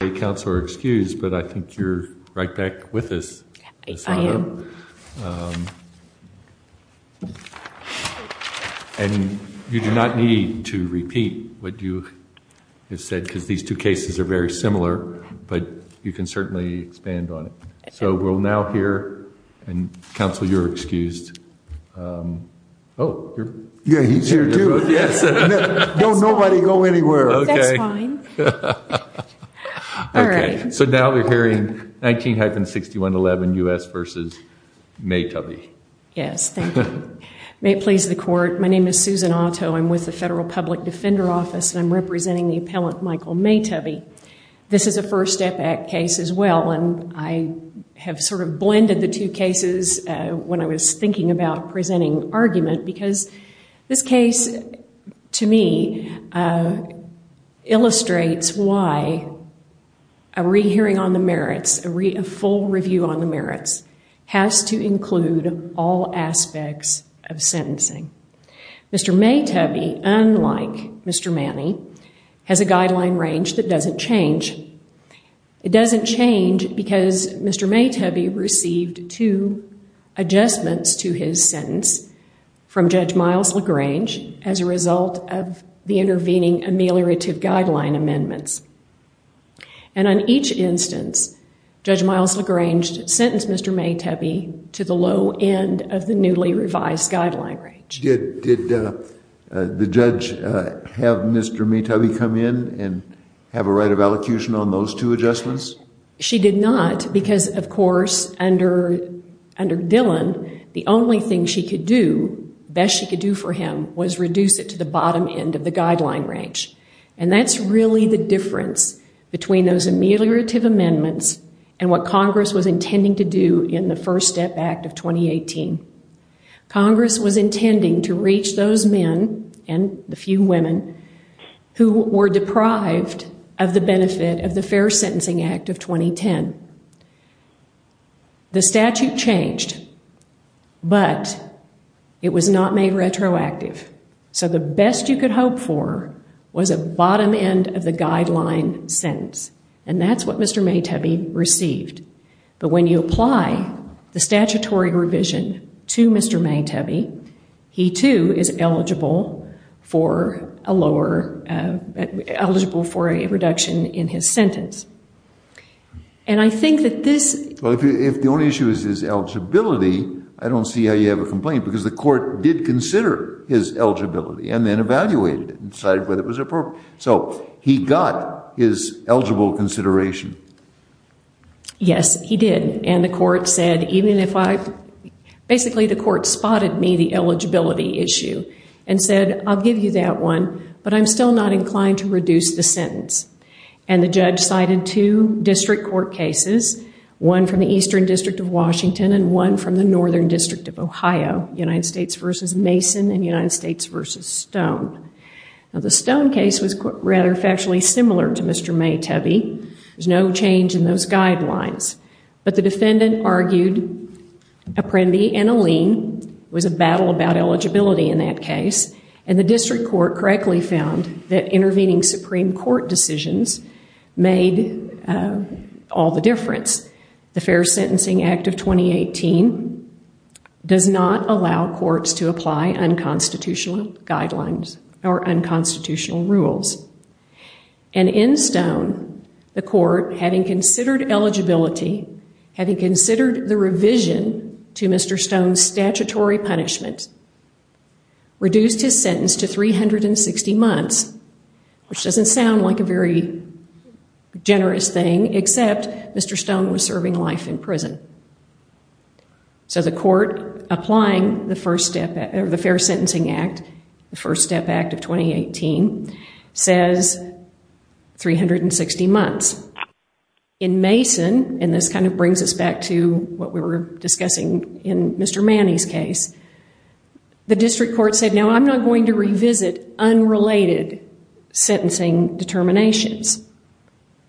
I think you are right back with us. You do not need to repeat what you have said because these two cases are very similar, but you can certainly expand on it. So we will now hear, and counsel you are excused. So now we are hearing 19-6111 U.S. v. Maytubby. May it please the court, my name is Susan Otto, I am with the Federal Public Defender Office and I am representing the appellant Michael Maytubby. This is a first step case as well, and I have sort of blended the two cases when I was thinking about presenting argument, because this case to me illustrates why a rehearing on the merits, a full review on the merits has to include all aspects of sentencing. Mr. Maytubby, unlike Mr. Manny, has a guideline range that does not change. It does not change because Mr. Maytubby received two adjustments to his sentence from Judge Miles LaGrange as a result of the intervening ameliorative guideline amendments. And on each instance, Judge Miles LaGrange sentenced Mr. Maytubby to the low end of the newly revised guideline range. Did the judge have Mr. Maytubby come in and have a right of allocution on those two adjustments? She did not because, of course, under Dillon, the only thing she could do, the best she could do for him, was reduce it to the bottom end of the guideline range. And that's really the difference between those ameliorative amendments and what Congress was intending to do in the First Step Act of 2018. Congress was intending to reach those men, and the few women, who were deprived of the benefit of the Fair Sentencing Act of 2010. The statute changed, but it was not made retroactive. So the best you could hope for was a bottom end of the guideline sentence, and that's what Mr. Maytubby received. But when you apply the statutory revision to Mr. Maytubby, he too is eligible for a reduction in his sentence. If the only issue is his eligibility, I don't see how you have a complaint, because the court did consider his eligibility and then evaluated it and decided whether it was appropriate. So he got his eligible consideration. Yes, he did. Basically, the court spotted me, the eligibility issue, and said, I'll give you that one, but I'm still not inclined to reduce the sentence. And the judge cited two district court cases, one from the Eastern District of Washington and one from the Northern District of Ohio, United States v. Mason and United States v. Stone. Now, the Stone case was rather factually similar to Mr. Maytubby. There's no change in those guidelines. But the defendant argued a prende and a lien was a battle about eligibility in that case. And the district court correctly found that intervening Supreme Court decisions made all the difference. The Fair Sentencing Act of 2018 does not allow courts to apply unconstitutional guidelines or unconstitutional rules. And in Stone, the court, having considered eligibility, having considered the revision to Mr. Stone's statutory punishment, reduced his sentence to 360 months, which doesn't sound like a very generous thing, except Mr. Stone was serving life in prison. So the court applying the Fair Sentencing Act, the First Step Act of 2018, says 360 months. In Mason, and this kind of brings us back to what we were discussing in Mr. Manny's case, the district court said, no, I'm not going to revisit unrelated sentencing determinations.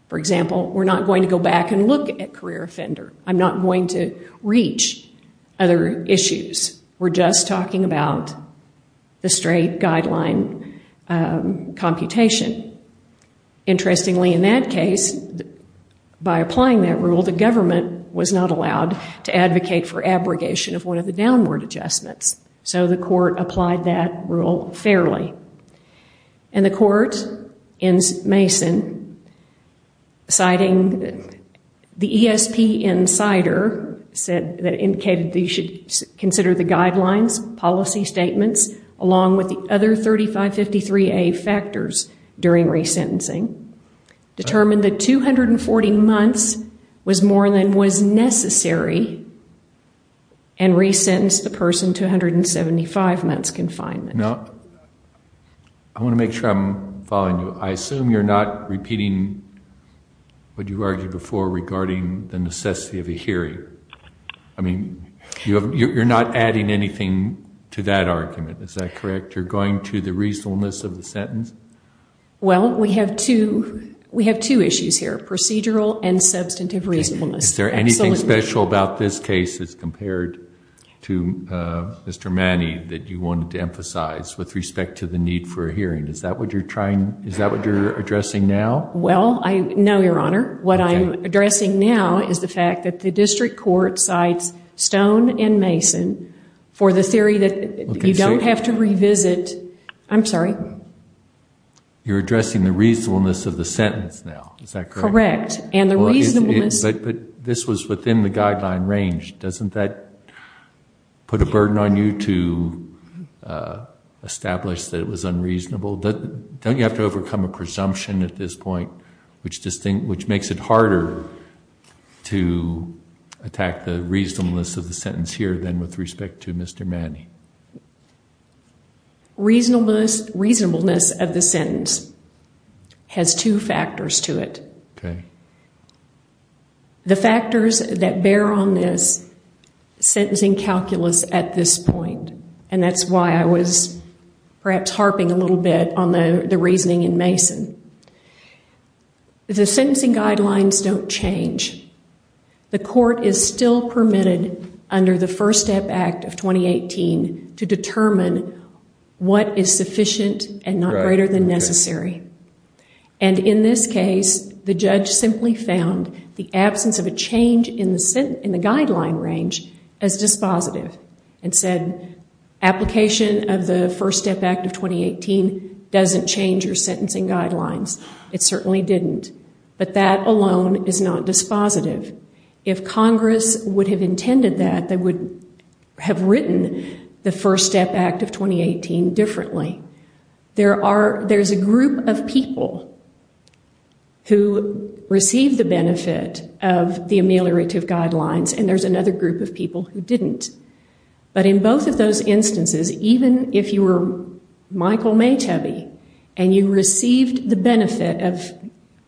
For example, we're not going to go back and look at career offender. I'm not going to reach other issues. We're just talking about the straight guideline computation. Interestingly, in that case, by applying that rule, the government was not allowed to advocate for abrogation of one of the downward adjustments. So the court applied that rule fairly. And the court in Mason, citing the ESP insider that indicated that you should consider the guidelines, policy statements, along with the other 3553A factors during resentencing, determined that 240 months was more than was necessary and resentenced the person to 175 months confinement. Now, I want to make sure I'm following you. I assume you're not repeating what you argued before regarding the necessity of a hearing. I mean, you're not adding anything to that argument. Is that correct? You're going to the reasonableness of the sentence? Well, we have two issues here, procedural and substantive reasonableness. Is there anything special about this case as compared to Mr. Manning that you wanted to emphasize with respect to the need for a hearing? Is that what you're addressing now? Well, no, Your Honor. What I'm addressing now is the fact that the district court cites Stone and Mason for the theory that you don't have to revisit. I'm sorry? You're addressing the reasonableness of the sentence now. Is that correct? Correct. But this was within the guideline range. Doesn't that put a burden on you to establish that it was unreasonable? Don't you have to overcome a presumption at this point, which makes it harder to attack the reasonableness of the sentence here than with respect to Mr. Manning? Reasonableness of the sentence has two factors to it. Okay. The factors that bear on this sentencing calculus at this point, and that's why I was perhaps harping a little bit on the reasoning in Mason. The sentencing guidelines don't change. The court is still permitted under the First Step Act of 2018 to determine what is sufficient and not greater than necessary. And in this case, the judge simply found the absence of a change in the guideline range as dispositive and said, Application of the First Step Act of 2018 doesn't change your sentencing guidelines. It certainly didn't. But that alone is not dispositive. If Congress would have intended that, they would have written the First Step Act of 2018 differently. There's a group of people who received the benefit of the ameliorative guidelines, and there's another group of people who didn't. But in both of those instances, even if you were Michael Maytebe and you received the benefit of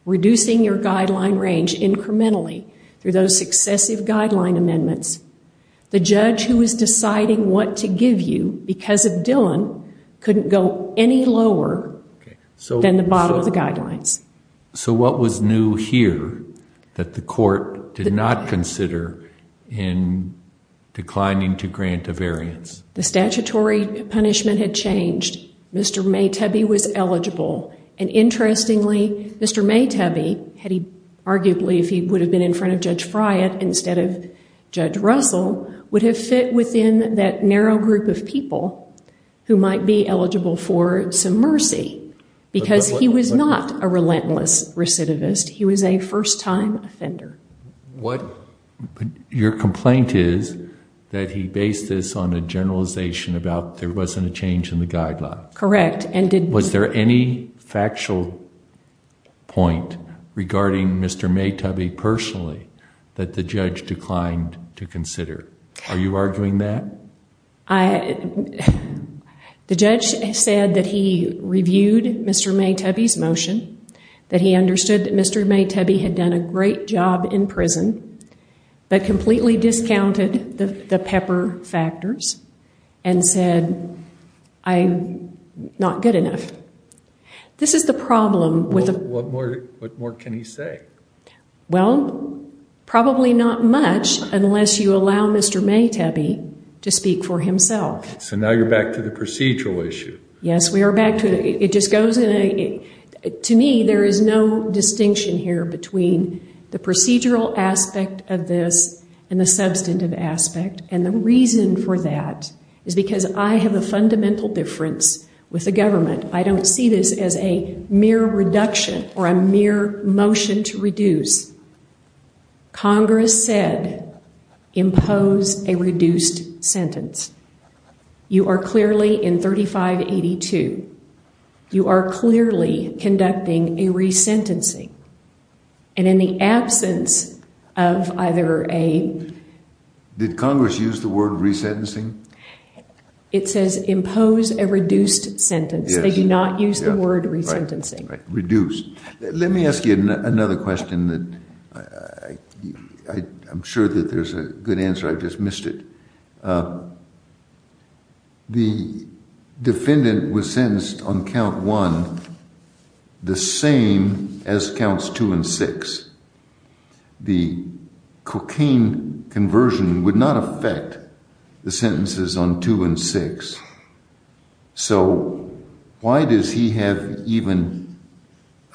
reducing your guideline range incrementally through those successive guideline amendments, the judge who was deciding what to give you because of Dillon couldn't go any lower than the bottom of the guidelines. So what was new here that the court did not consider in declining to grant a variance? The statutory punishment had changed. Mr. Maytebe was eligible. And interestingly, Mr. Maytebe, arguably if he would have been in front of Judge Friant instead of Judge Russell, would have fit within that narrow group of people who might be eligible for some mercy. Because he was not a relentless recidivist. He was a first-time offender. Your complaint is that he based this on a generalization about there wasn't a change in the guideline. Correct. Was there any factual point regarding Mr. Maytebe personally that the judge declined to consider? Are you arguing that? The judge said that he reviewed Mr. Maytebe's motion, that he understood that Mr. Maytebe had done a great job in prison, but completely discounted the pepper factors and said, I'm not good enough. This is the problem. What more can he say? Well, probably not much unless you allow Mr. Maytebe to speak for himself. So now you're back to the procedural issue. Yes, we are back to it. To me, there is no distinction here between the procedural aspect of this and the substantive aspect. And the reason for that is because I have a fundamental difference with the government. I don't see this as a mere reduction or a mere motion to reduce. Congress said impose a reduced sentence. You are clearly in 3582. You are clearly conducting a resentencing. And in the absence of either a- Did Congress use the word resentencing? It says impose a reduced sentence. They do not use the word resentencing. Reduce. Let me ask you another question that I'm sure that there's a good answer. I just missed it. The defendant was sentenced on count one the same as counts two and six. The cocaine conversion would not affect the sentences on two and six. So why does he have even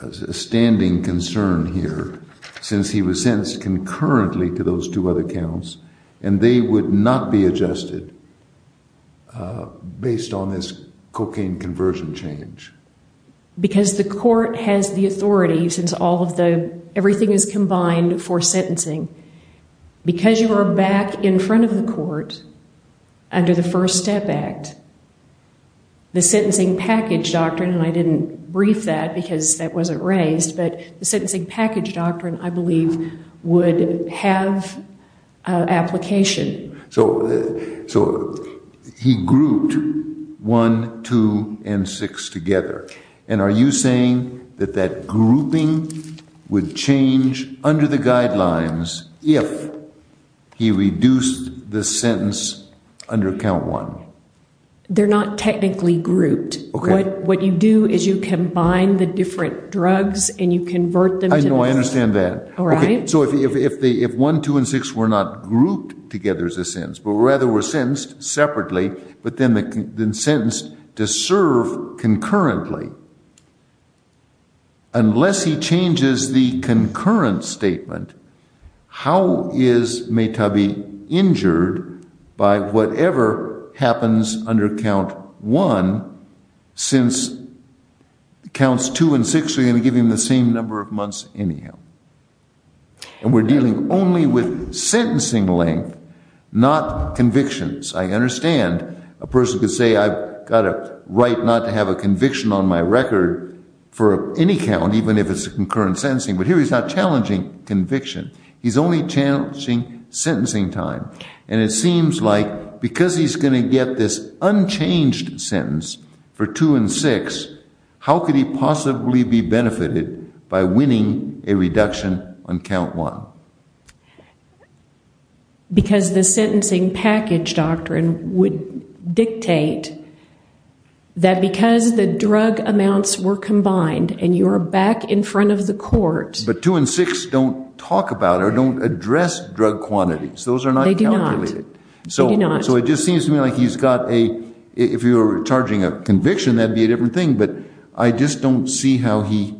a standing concern here since he was sentenced concurrently to those two other counts and they would not be adjusted based on this cocaine conversion change? Because the court has the authority since all of the- everything is combined for sentencing. Because you are back in front of the court under the First Step Act, the sentencing package doctrine, and I didn't brief that because that wasn't raised, but the sentencing package doctrine, I believe, would have application. So he grouped one, two, and six together. And are you saying that that grouping would change under the guidelines if he reduced the sentence under count one? They're not technically grouped. What you do is you combine the different drugs and you convert them to- I know. I understand that. So if one, two, and six were not grouped together as a sentence, but rather were sentenced separately, but then sentenced to serve concurrently, unless he changes the concurrent statement, how is Mahtabi injured by whatever happens under count one since counts two and six are going to give him the same number of months anyhow? And we're dealing only with sentencing length, not convictions. I understand a person could say I've got a right not to have a conviction on my record for any count, even if it's a concurrent sentencing, but here he's not challenging conviction. He's only challenging sentencing time. And it seems like because he's going to get this unchanged sentence for two and six, how could he possibly be benefited by winning a reduction on count one? Because the sentencing package doctrine would dictate that because the drug amounts were combined and you're back in front of the court- But two and six don't talk about or don't address drug quantities. Those are not calculated. They do not. So it just seems to me like he's got a- if you were charging a conviction, that'd be a different thing. But I just don't see how he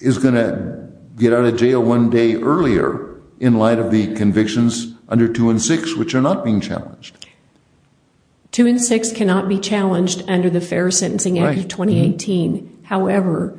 is going to get out of jail one day earlier in light of the convictions under two and six, which are not being challenged. Two and six cannot be challenged under the fair sentencing act of 2018. However,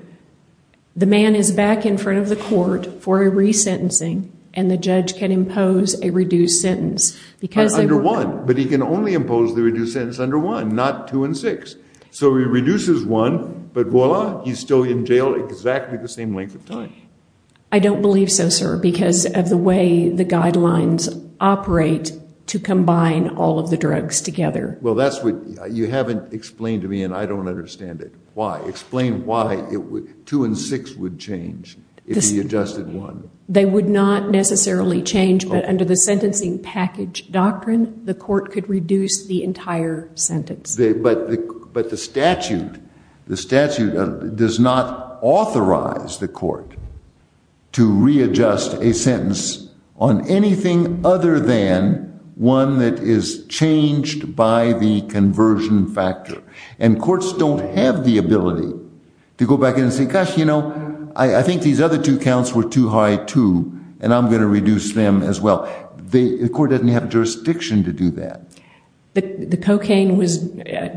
the man is back in front of the court for a resentencing and the judge can impose a reduced sentence. Under one, but he can only impose the reduced sentence under one, not two and six. So he reduces one, but voila, he's still in jail exactly the same length of time. I don't believe so, sir, because of the way the guidelines operate to combine all of the drugs together. Well, that's what- you haven't explained to me and I don't understand it. Why? Explain why two and six would change if he adjusted one. They would not necessarily change, but under the sentencing package doctrine, the court could reduce the entire sentence. But the statute does not authorize the court to readjust a sentence on anything other than one that is changed by the conversion factor. And courts don't have the ability to go back and say, gosh, you know, I think these other two counts were too high, too, and I'm going to reduce them as well. The court doesn't have jurisdiction to do that. The cocaine was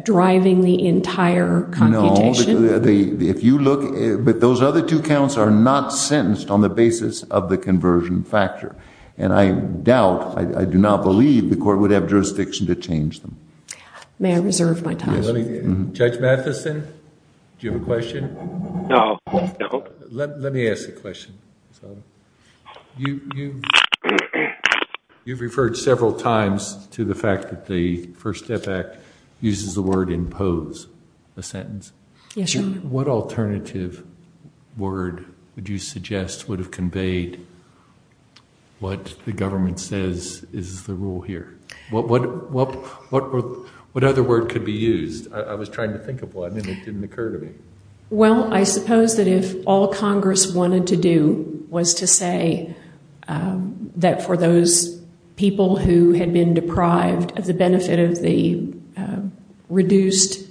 driving the entire computation? No, if you look- but those other two counts are not sentenced on the basis of the conversion factor. And I doubt, I do not believe the court would have jurisdiction to change them. May I reserve my time? Judge Matheson, do you have a question? No. Let me ask the question. You've referred several times to the fact that the First Step Act uses the word impose a sentence. Yes, Your Honor. What alternative word would you suggest would have conveyed what the government says is the rule here? What other word could be used? I was trying to think of one and it didn't occur to me. Well, I suppose that if all Congress wanted to do was to say that for those people who had been deprived of the benefit of the reduced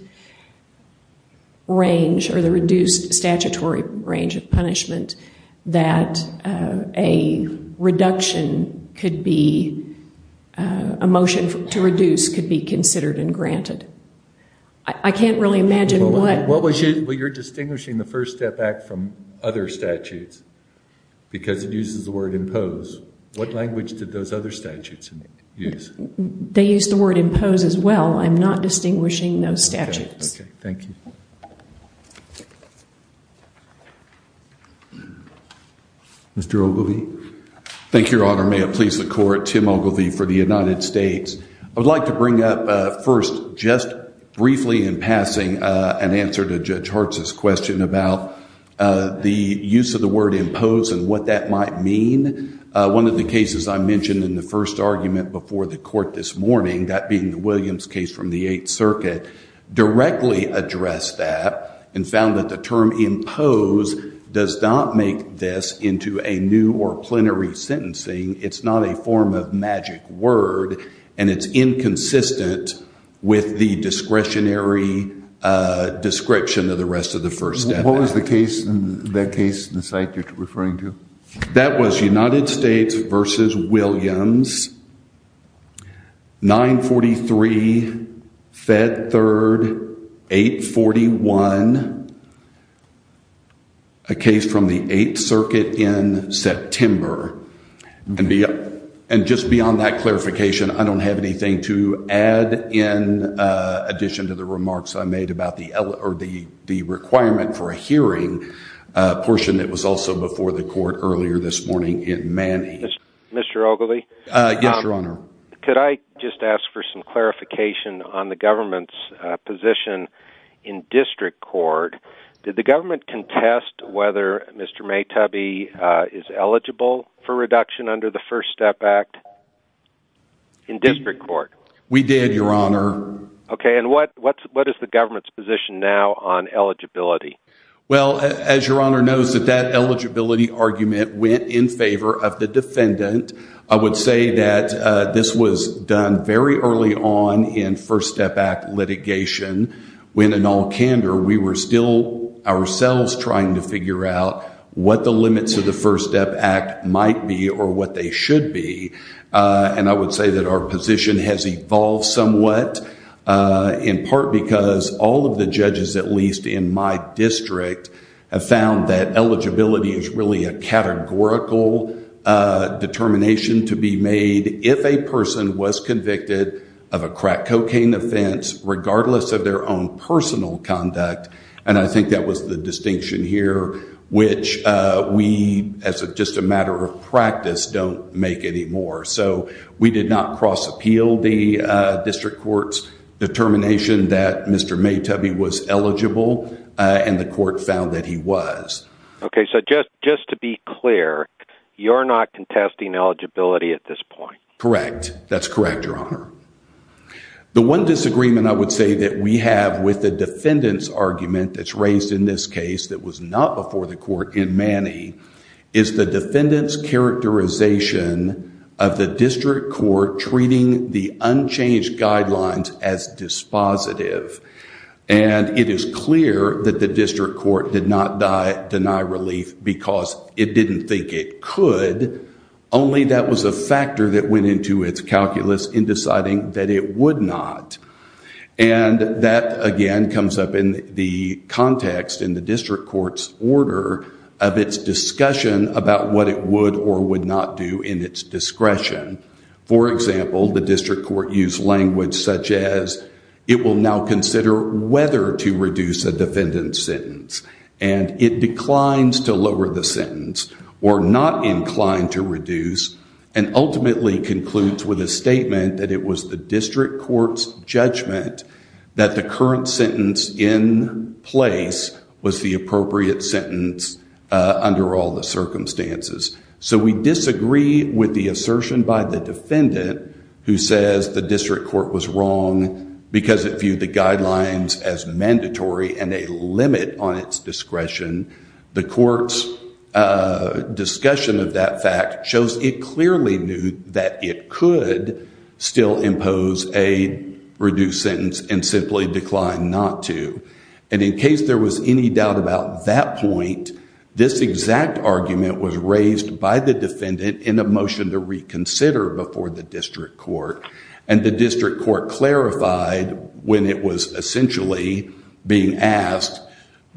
range or the reduced statutory range of punishment that a reduction could be- a motion to reduce could be considered and granted. I can't really imagine what- Well, you're distinguishing the First Step Act from other statutes because it uses the word impose. What language did those other statutes use? They use the word impose as well. I'm not distinguishing those statutes. Okay. Thank you. Mr. Ogilvie. Thank you, Your Honor. May it please the Court. Tim Ogilvie for the United States. I would like to bring up first just briefly in passing an answer to Judge Hartz's question about the use of the word impose and what that might mean. One of the cases I mentioned in the first argument before the Court this morning, that being the Williams case from the Eighth Circuit, directly addressed that and found that the term impose does not make this into a new or plenary sentencing. It's not a form of magic word and it's inconsistent with the discretionary description of the rest of the First Step Act. What was the case, that case, the site you're referring to? That was United States v. Williams, 943 Fed Third 841, a case from the Eighth Circuit in September. And just beyond that clarification, I don't have anything to add in addition to the remarks I made about the requirement for a hearing portion that was also before the Court earlier this morning in Manny. Mr. Ogilvie. Yes, Your Honor. Could I just ask for some clarification on the government's position in district court? Did the government contest whether Mr. Maytubby is eligible for reduction under the First Step Act in district court? We did, Your Honor. Okay, and what is the government's position now on eligibility? Well, as Your Honor knows, that that eligibility argument went in favor of the defendant. I would say that this was done very early on in First Step Act litigation when, in all candor, we were still ourselves trying to figure out what the limits of the First Step Act might be or what they should be. And I would say that our position has evolved somewhat, in part because all of the judges, at least in my district, have found that eligibility is really a categorical determination to be made if a person was convicted of a crack cocaine offense, regardless of their own personal conduct. And I think that was the distinction here, which we, as just a matter of practice, don't make anymore. So we did not cross-appeal the district court's determination that Mr. Maytubby was eligible, and the court found that he was. Okay, so just to be clear, you're not contesting eligibility at this point? Correct. That's correct, Your Honor. The one disagreement I would say that we have with the defendant's argument that's raised in this case that was not before the court in Manny is the defendant's characterization of the district court treating the unchanged guidelines as dispositive. And it is clear that the district court did not deny relief because it didn't think it could, only that was a factor that went into its calculus in deciding that it would not. And that, again, comes up in the context in the district court's order of its discussion about what it would or would not do in its discretion. For example, the district court used language such as, it will now consider whether to reduce a defendant's sentence. And it declines to lower the sentence, or not inclined to reduce, and ultimately concludes with a statement that it was the district court's judgment that the current sentence in place was the appropriate sentence under all the circumstances. So we disagree with the assertion by the defendant who says the district court was wrong because it viewed the guidelines as mandatory and a limit on its discretion. The court's discussion of that fact shows it clearly knew that it could still impose a reduced sentence and simply declined not to. And in case there was any doubt about that point, this exact argument was raised by the defendant in a motion to reconsider before the district court. And the district court clarified when it was essentially being asked,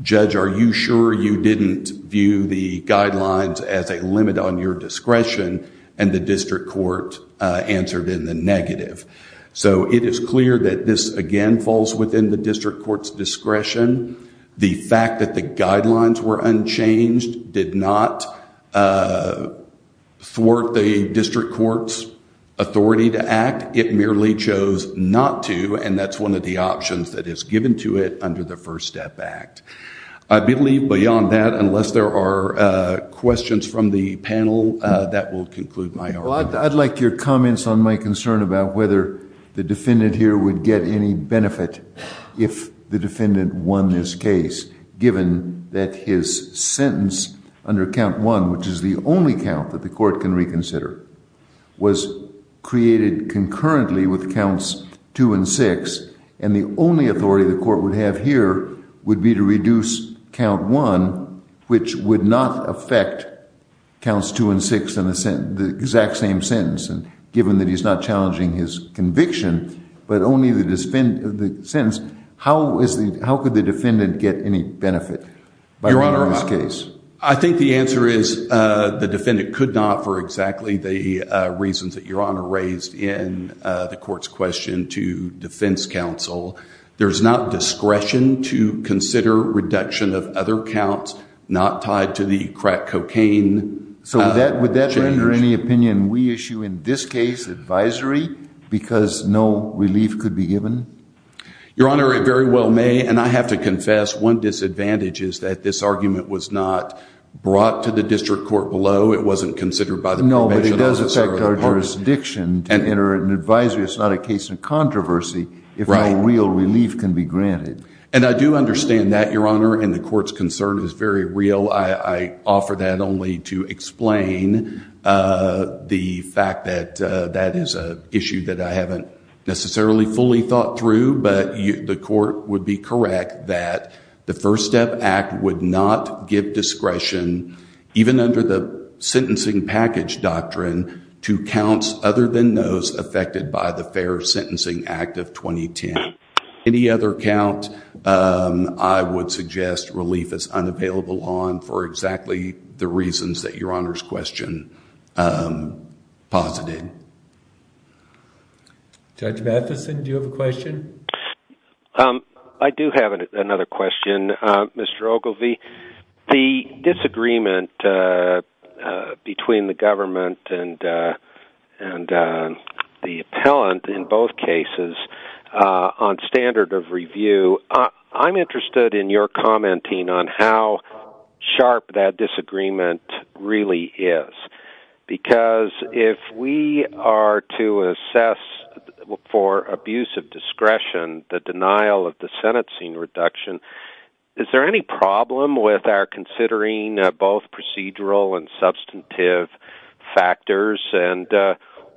judge, are you sure you didn't view the guidelines as a limit on your discretion? And the district court answered in the negative. So it is clear that this, again, falls within the district court's discretion. The fact that the guidelines were unchanged did not thwart the district court's authority to act. It merely chose not to, and that's one of the options that is given to it under the First Step Act. I believe beyond that, unless there are questions from the panel, that will conclude my argument. Well, I'd like your comments on my concern about whether the defendant here would get any benefit if the defendant won this case, given that his sentence under Count 1, which is the only count that the court can reconsider, was created concurrently with Counts 2 and 6, and the only authority the court would have here would be to reduce Count 1, which would not affect Counts 2 and 6 in the exact same sentence, given that he's not challenging his conviction, but only the sentence. How could the defendant get any benefit by winning this case? I think the answer is the defendant could not for exactly the reasons that Your Honor raised in the court's question to defense counsel. There's not discretion to consider reduction of other counts not tied to the crack cocaine. So would that render any opinion we issue in this case advisory because no relief could be given? Your Honor, it very well may. And I have to confess, one disadvantage is that this argument was not brought to the district court below. It wasn't considered by the prevention officer. No, but it does affect our jurisdiction to enter an advisory. It's not a case of controversy if no real relief can be granted. And I do understand that, Your Honor, and the court's concern is very real. I offer that only to explain the fact that that is an issue that I haven't necessarily fully thought through. But the court would be correct that the First Step Act would not give discretion, even under the sentencing package doctrine, to counts other than those affected by the Fair Sentencing Act of 2010. Any other count I would suggest relief is unavailable on for exactly the reasons that Your Honor's question posited? Judge Matheson, do you have a question? I do have another question, Mr. Ogilvie. The disagreement between the government and the appellant in both cases on standard of review, I'm interested in your commenting on how sharp that disagreement really is. Because if we are to assess for abuse of discretion the denial of the sentencing reduction, is there any problem with our considering both procedural and substantive factors? And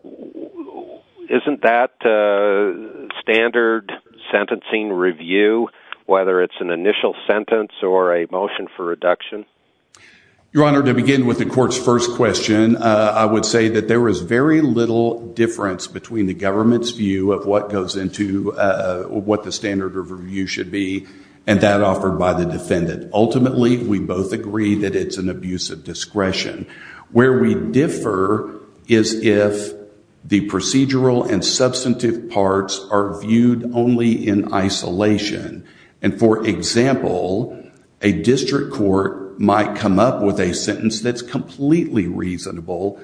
isn't that standard sentencing review, whether it's an initial sentence or a motion for reduction? Your Honor, to begin with the court's first question, I would say that there is very little difference between the government's view of what goes into what the standard of review should be and that offered by the defendant. Ultimately, we both agree that it's an abuse of discretion. Where we differ is if the procedural and substantive parts are viewed only in isolation. And for example, a district court might come up with a sentence that's completely reasonable,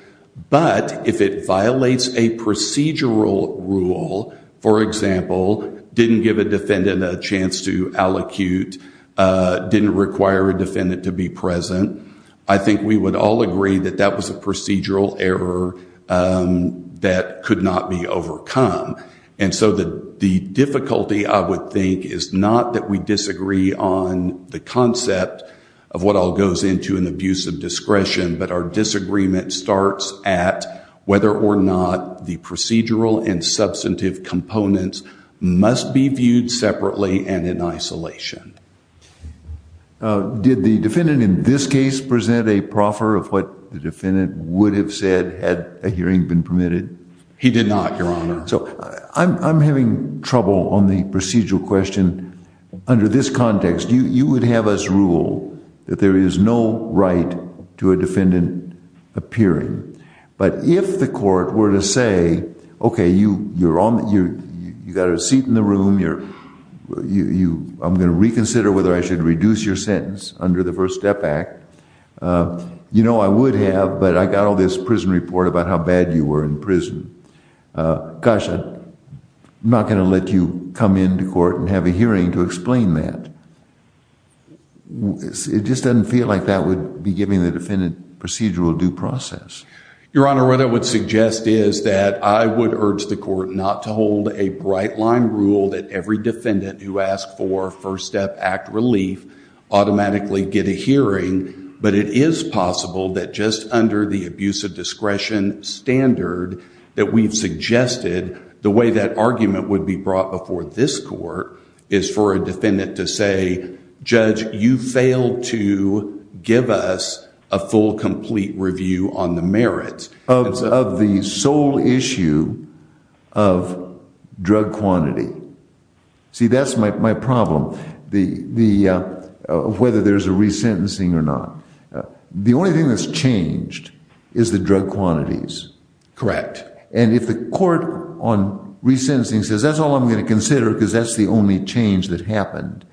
but if it violates a procedural rule, for example, didn't give a defendant a chance to allocute, didn't require a defendant to be present, I think we would all agree that that was a procedural error that could not be overcome. And so the difficulty, I would think, is not that we disagree on the concept of what all goes into an abuse of discretion, but our disagreement starts at whether or not the procedural and substantive components must be viewed separately and in isolation. Did the defendant in this case present a proffer of what the defendant would have said had a hearing been permitted? He did not, Your Honor. So I'm having trouble on the procedural question. Under this context, you would have us rule that there is no right to a defendant appearing. But if the court were to say, okay, you got a seat in the room, I'm going to reconsider whether I should reduce your sentence under the First Step Act, you know I would have, but I got all this prison report about how bad you were in prison. Gosh, I'm not going to let you come into court and have a hearing to explain that. It just doesn't feel like that would be giving the defendant procedural due process. Your Honor, what I would suggest is that I would urge the court not to hold a bright line rule that every defendant who asks for First Step Act relief automatically get a hearing, but it is possible that just under the abuse of discretion standard that we've suggested, the way that argument would be brought before this court is for a defendant to say, Judge, you failed to give us a full, complete review on the merits. Of the sole issue of drug quantity. See, that's my problem. Whether there's a resentencing or not. The only thing that's changed is the drug quantities. Correct. And if the court on resentencing says that's all I'm going to consider because that's the only change that happened,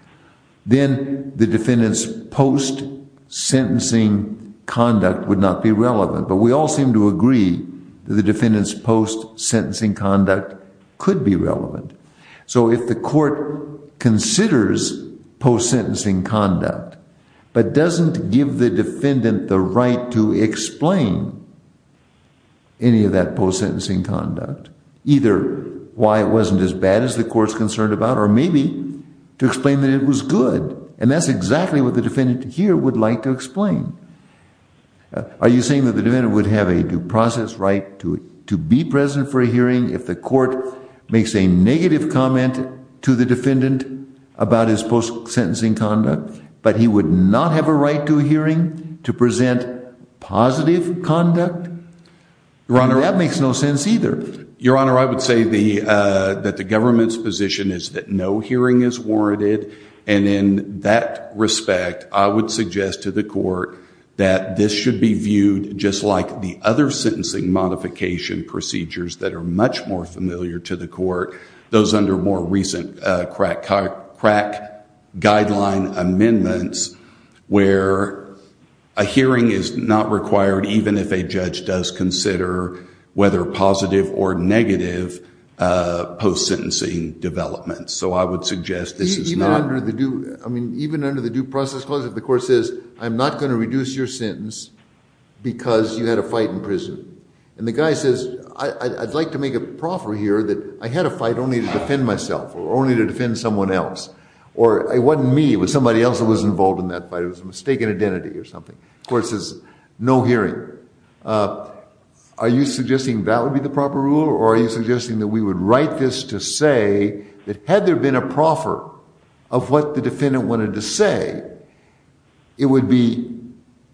then the defendant's post-sentencing conduct would not be relevant. But we all seem to agree that the defendant's post-sentencing conduct could be relevant. So if the court considers post-sentencing conduct, but doesn't give the defendant the right to explain any of that post-sentencing conduct, either why it wasn't as bad as the court's concerned about, or maybe to explain that it was good. And that's exactly what the defendant here would like to explain. Are you saying that the defendant would have a due process right to be present for a hearing if the court makes a negative comment to the defendant about his post-sentencing conduct, but he would not have a right to a hearing to present positive conduct? Your Honor. That makes no sense either. Your Honor, I would say that the government's position is that no hearing is warranted. And in that respect, I would suggest to the court that this should be viewed just like the other sentencing modification procedures that are much more familiar to the court, those under more recent crack guideline amendments, where a hearing is not required even if a judge does consider whether positive or negative post-sentencing developments. So I would suggest this is not. Even under the due process clause, if the court says, I'm not going to reduce your sentence because you had a fight in prison, and the guy says, I'd like to make a proffer here that I had a fight only to defend myself or only to defend someone else, or it wasn't me. It was somebody else that was involved in that fight. It was a mistaken identity or something. The court says, no hearing. Are you suggesting that would be the proper rule? Or are you suggesting that we would write this to say that had there been a proffer of what the defendant wanted to say, it would be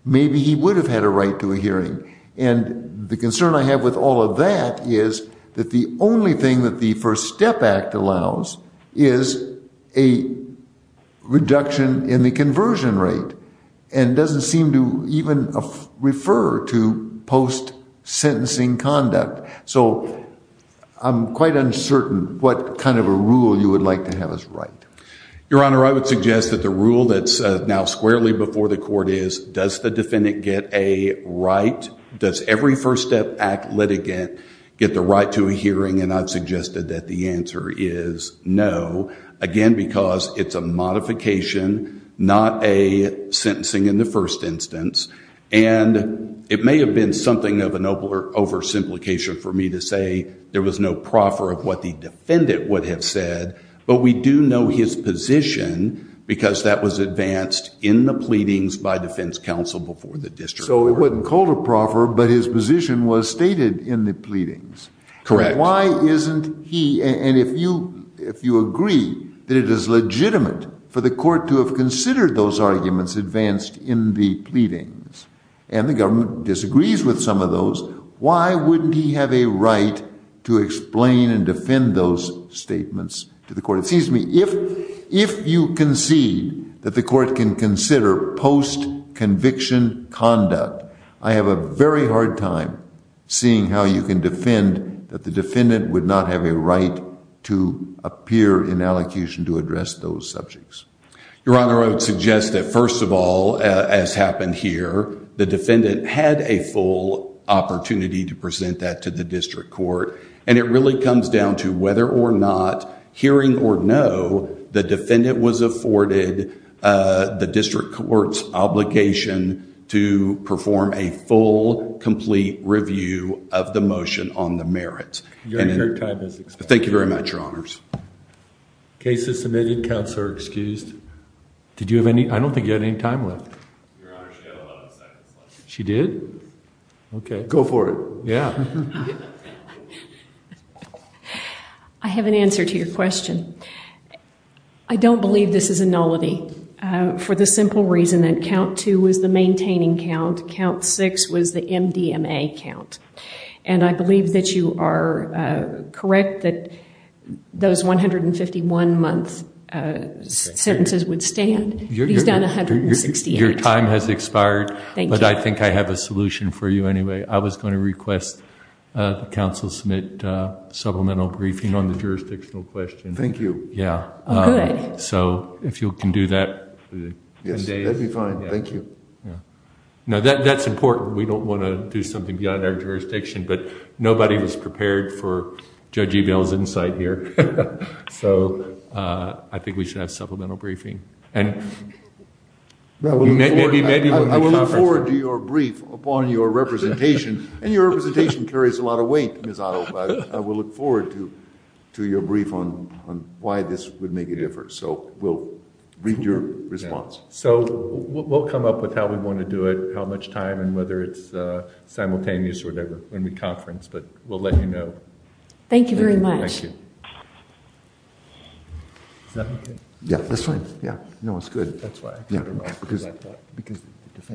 maybe he would have had a right to a hearing. And the concern I have with all of that is that the only thing that the First Step Act allows is a reduction in the conversion rate and doesn't seem to even refer to post-sentencing conduct. So I'm quite uncertain what kind of a rule you would like to have us write. Your Honor, I would suggest that the rule that's now squarely before the court is, does the defendant get a right? Does every First Step Act litigant get the right to a hearing? And I've suggested that the answer is no. Again, because it's a modification, not a sentencing in the first instance. And it may have been something of an oversimplification for me to say there was no proffer of what the defendant would have said. But we do know his position because that was advanced in the pleadings by defense counsel before the district court. So it wasn't called a proffer, but his position was stated in the pleadings. Correct. And why isn't he, and if you agree that it is legitimate for the court to have considered those arguments advanced in the pleadings, and the government disagrees with some of those, why wouldn't he have a right to explain and defend those statements to the court? It seems to me if you concede that the court can consider post-conviction conduct, I have a very hard time seeing how you can defend that the defendant would not have a right to appear in allocution to address those subjects. Your Honor, I would suggest that first of all, as happened here, the defendant had a full opportunity to present that to the district court. And it really comes down to whether or not, hearing or no, the defendant was afforded the district court's obligation to perform a full, complete review of the motion on the merits. Your time has expired. Thank you very much, Your Honors. Case is submitted. Counts are excused. Did you have any, I don't think you had any time left. Your Honor, she had a lot of seconds left. She did? Okay. Go for it. Yeah. I have an answer to your question. I don't believe this is a nullity for the simple reason that count two was the maintaining count, count six was the MDMA count. And I believe that you are correct that those 151-month sentences would stand. He's done 168. Your time has expired. Thank you. But I think I have a solution for you anyway. I was going to request that counsel submit supplemental briefing on the jurisdictional question. Thank you. Yeah. Good. So if you can do that. Yes, that would be fine. Thank you. Now, that's important. We don't want to do something beyond our jurisdiction, but nobody was prepared for Judge Ebel's insight here. So I think we should have supplemental briefing. I will look forward to your brief upon your representation. And your representation carries a lot of weight, Ms. Otto. I will look forward to your brief on why this would make a difference. So we'll read your response. So we'll come up with how we want to do it, how much time, and whether it's simultaneous or whatever when we conference. But we'll let you know. Thank you very much. Thank you. Is that okay? Yeah, that's fine. Yeah. That's why. Yeah. Because the defendant...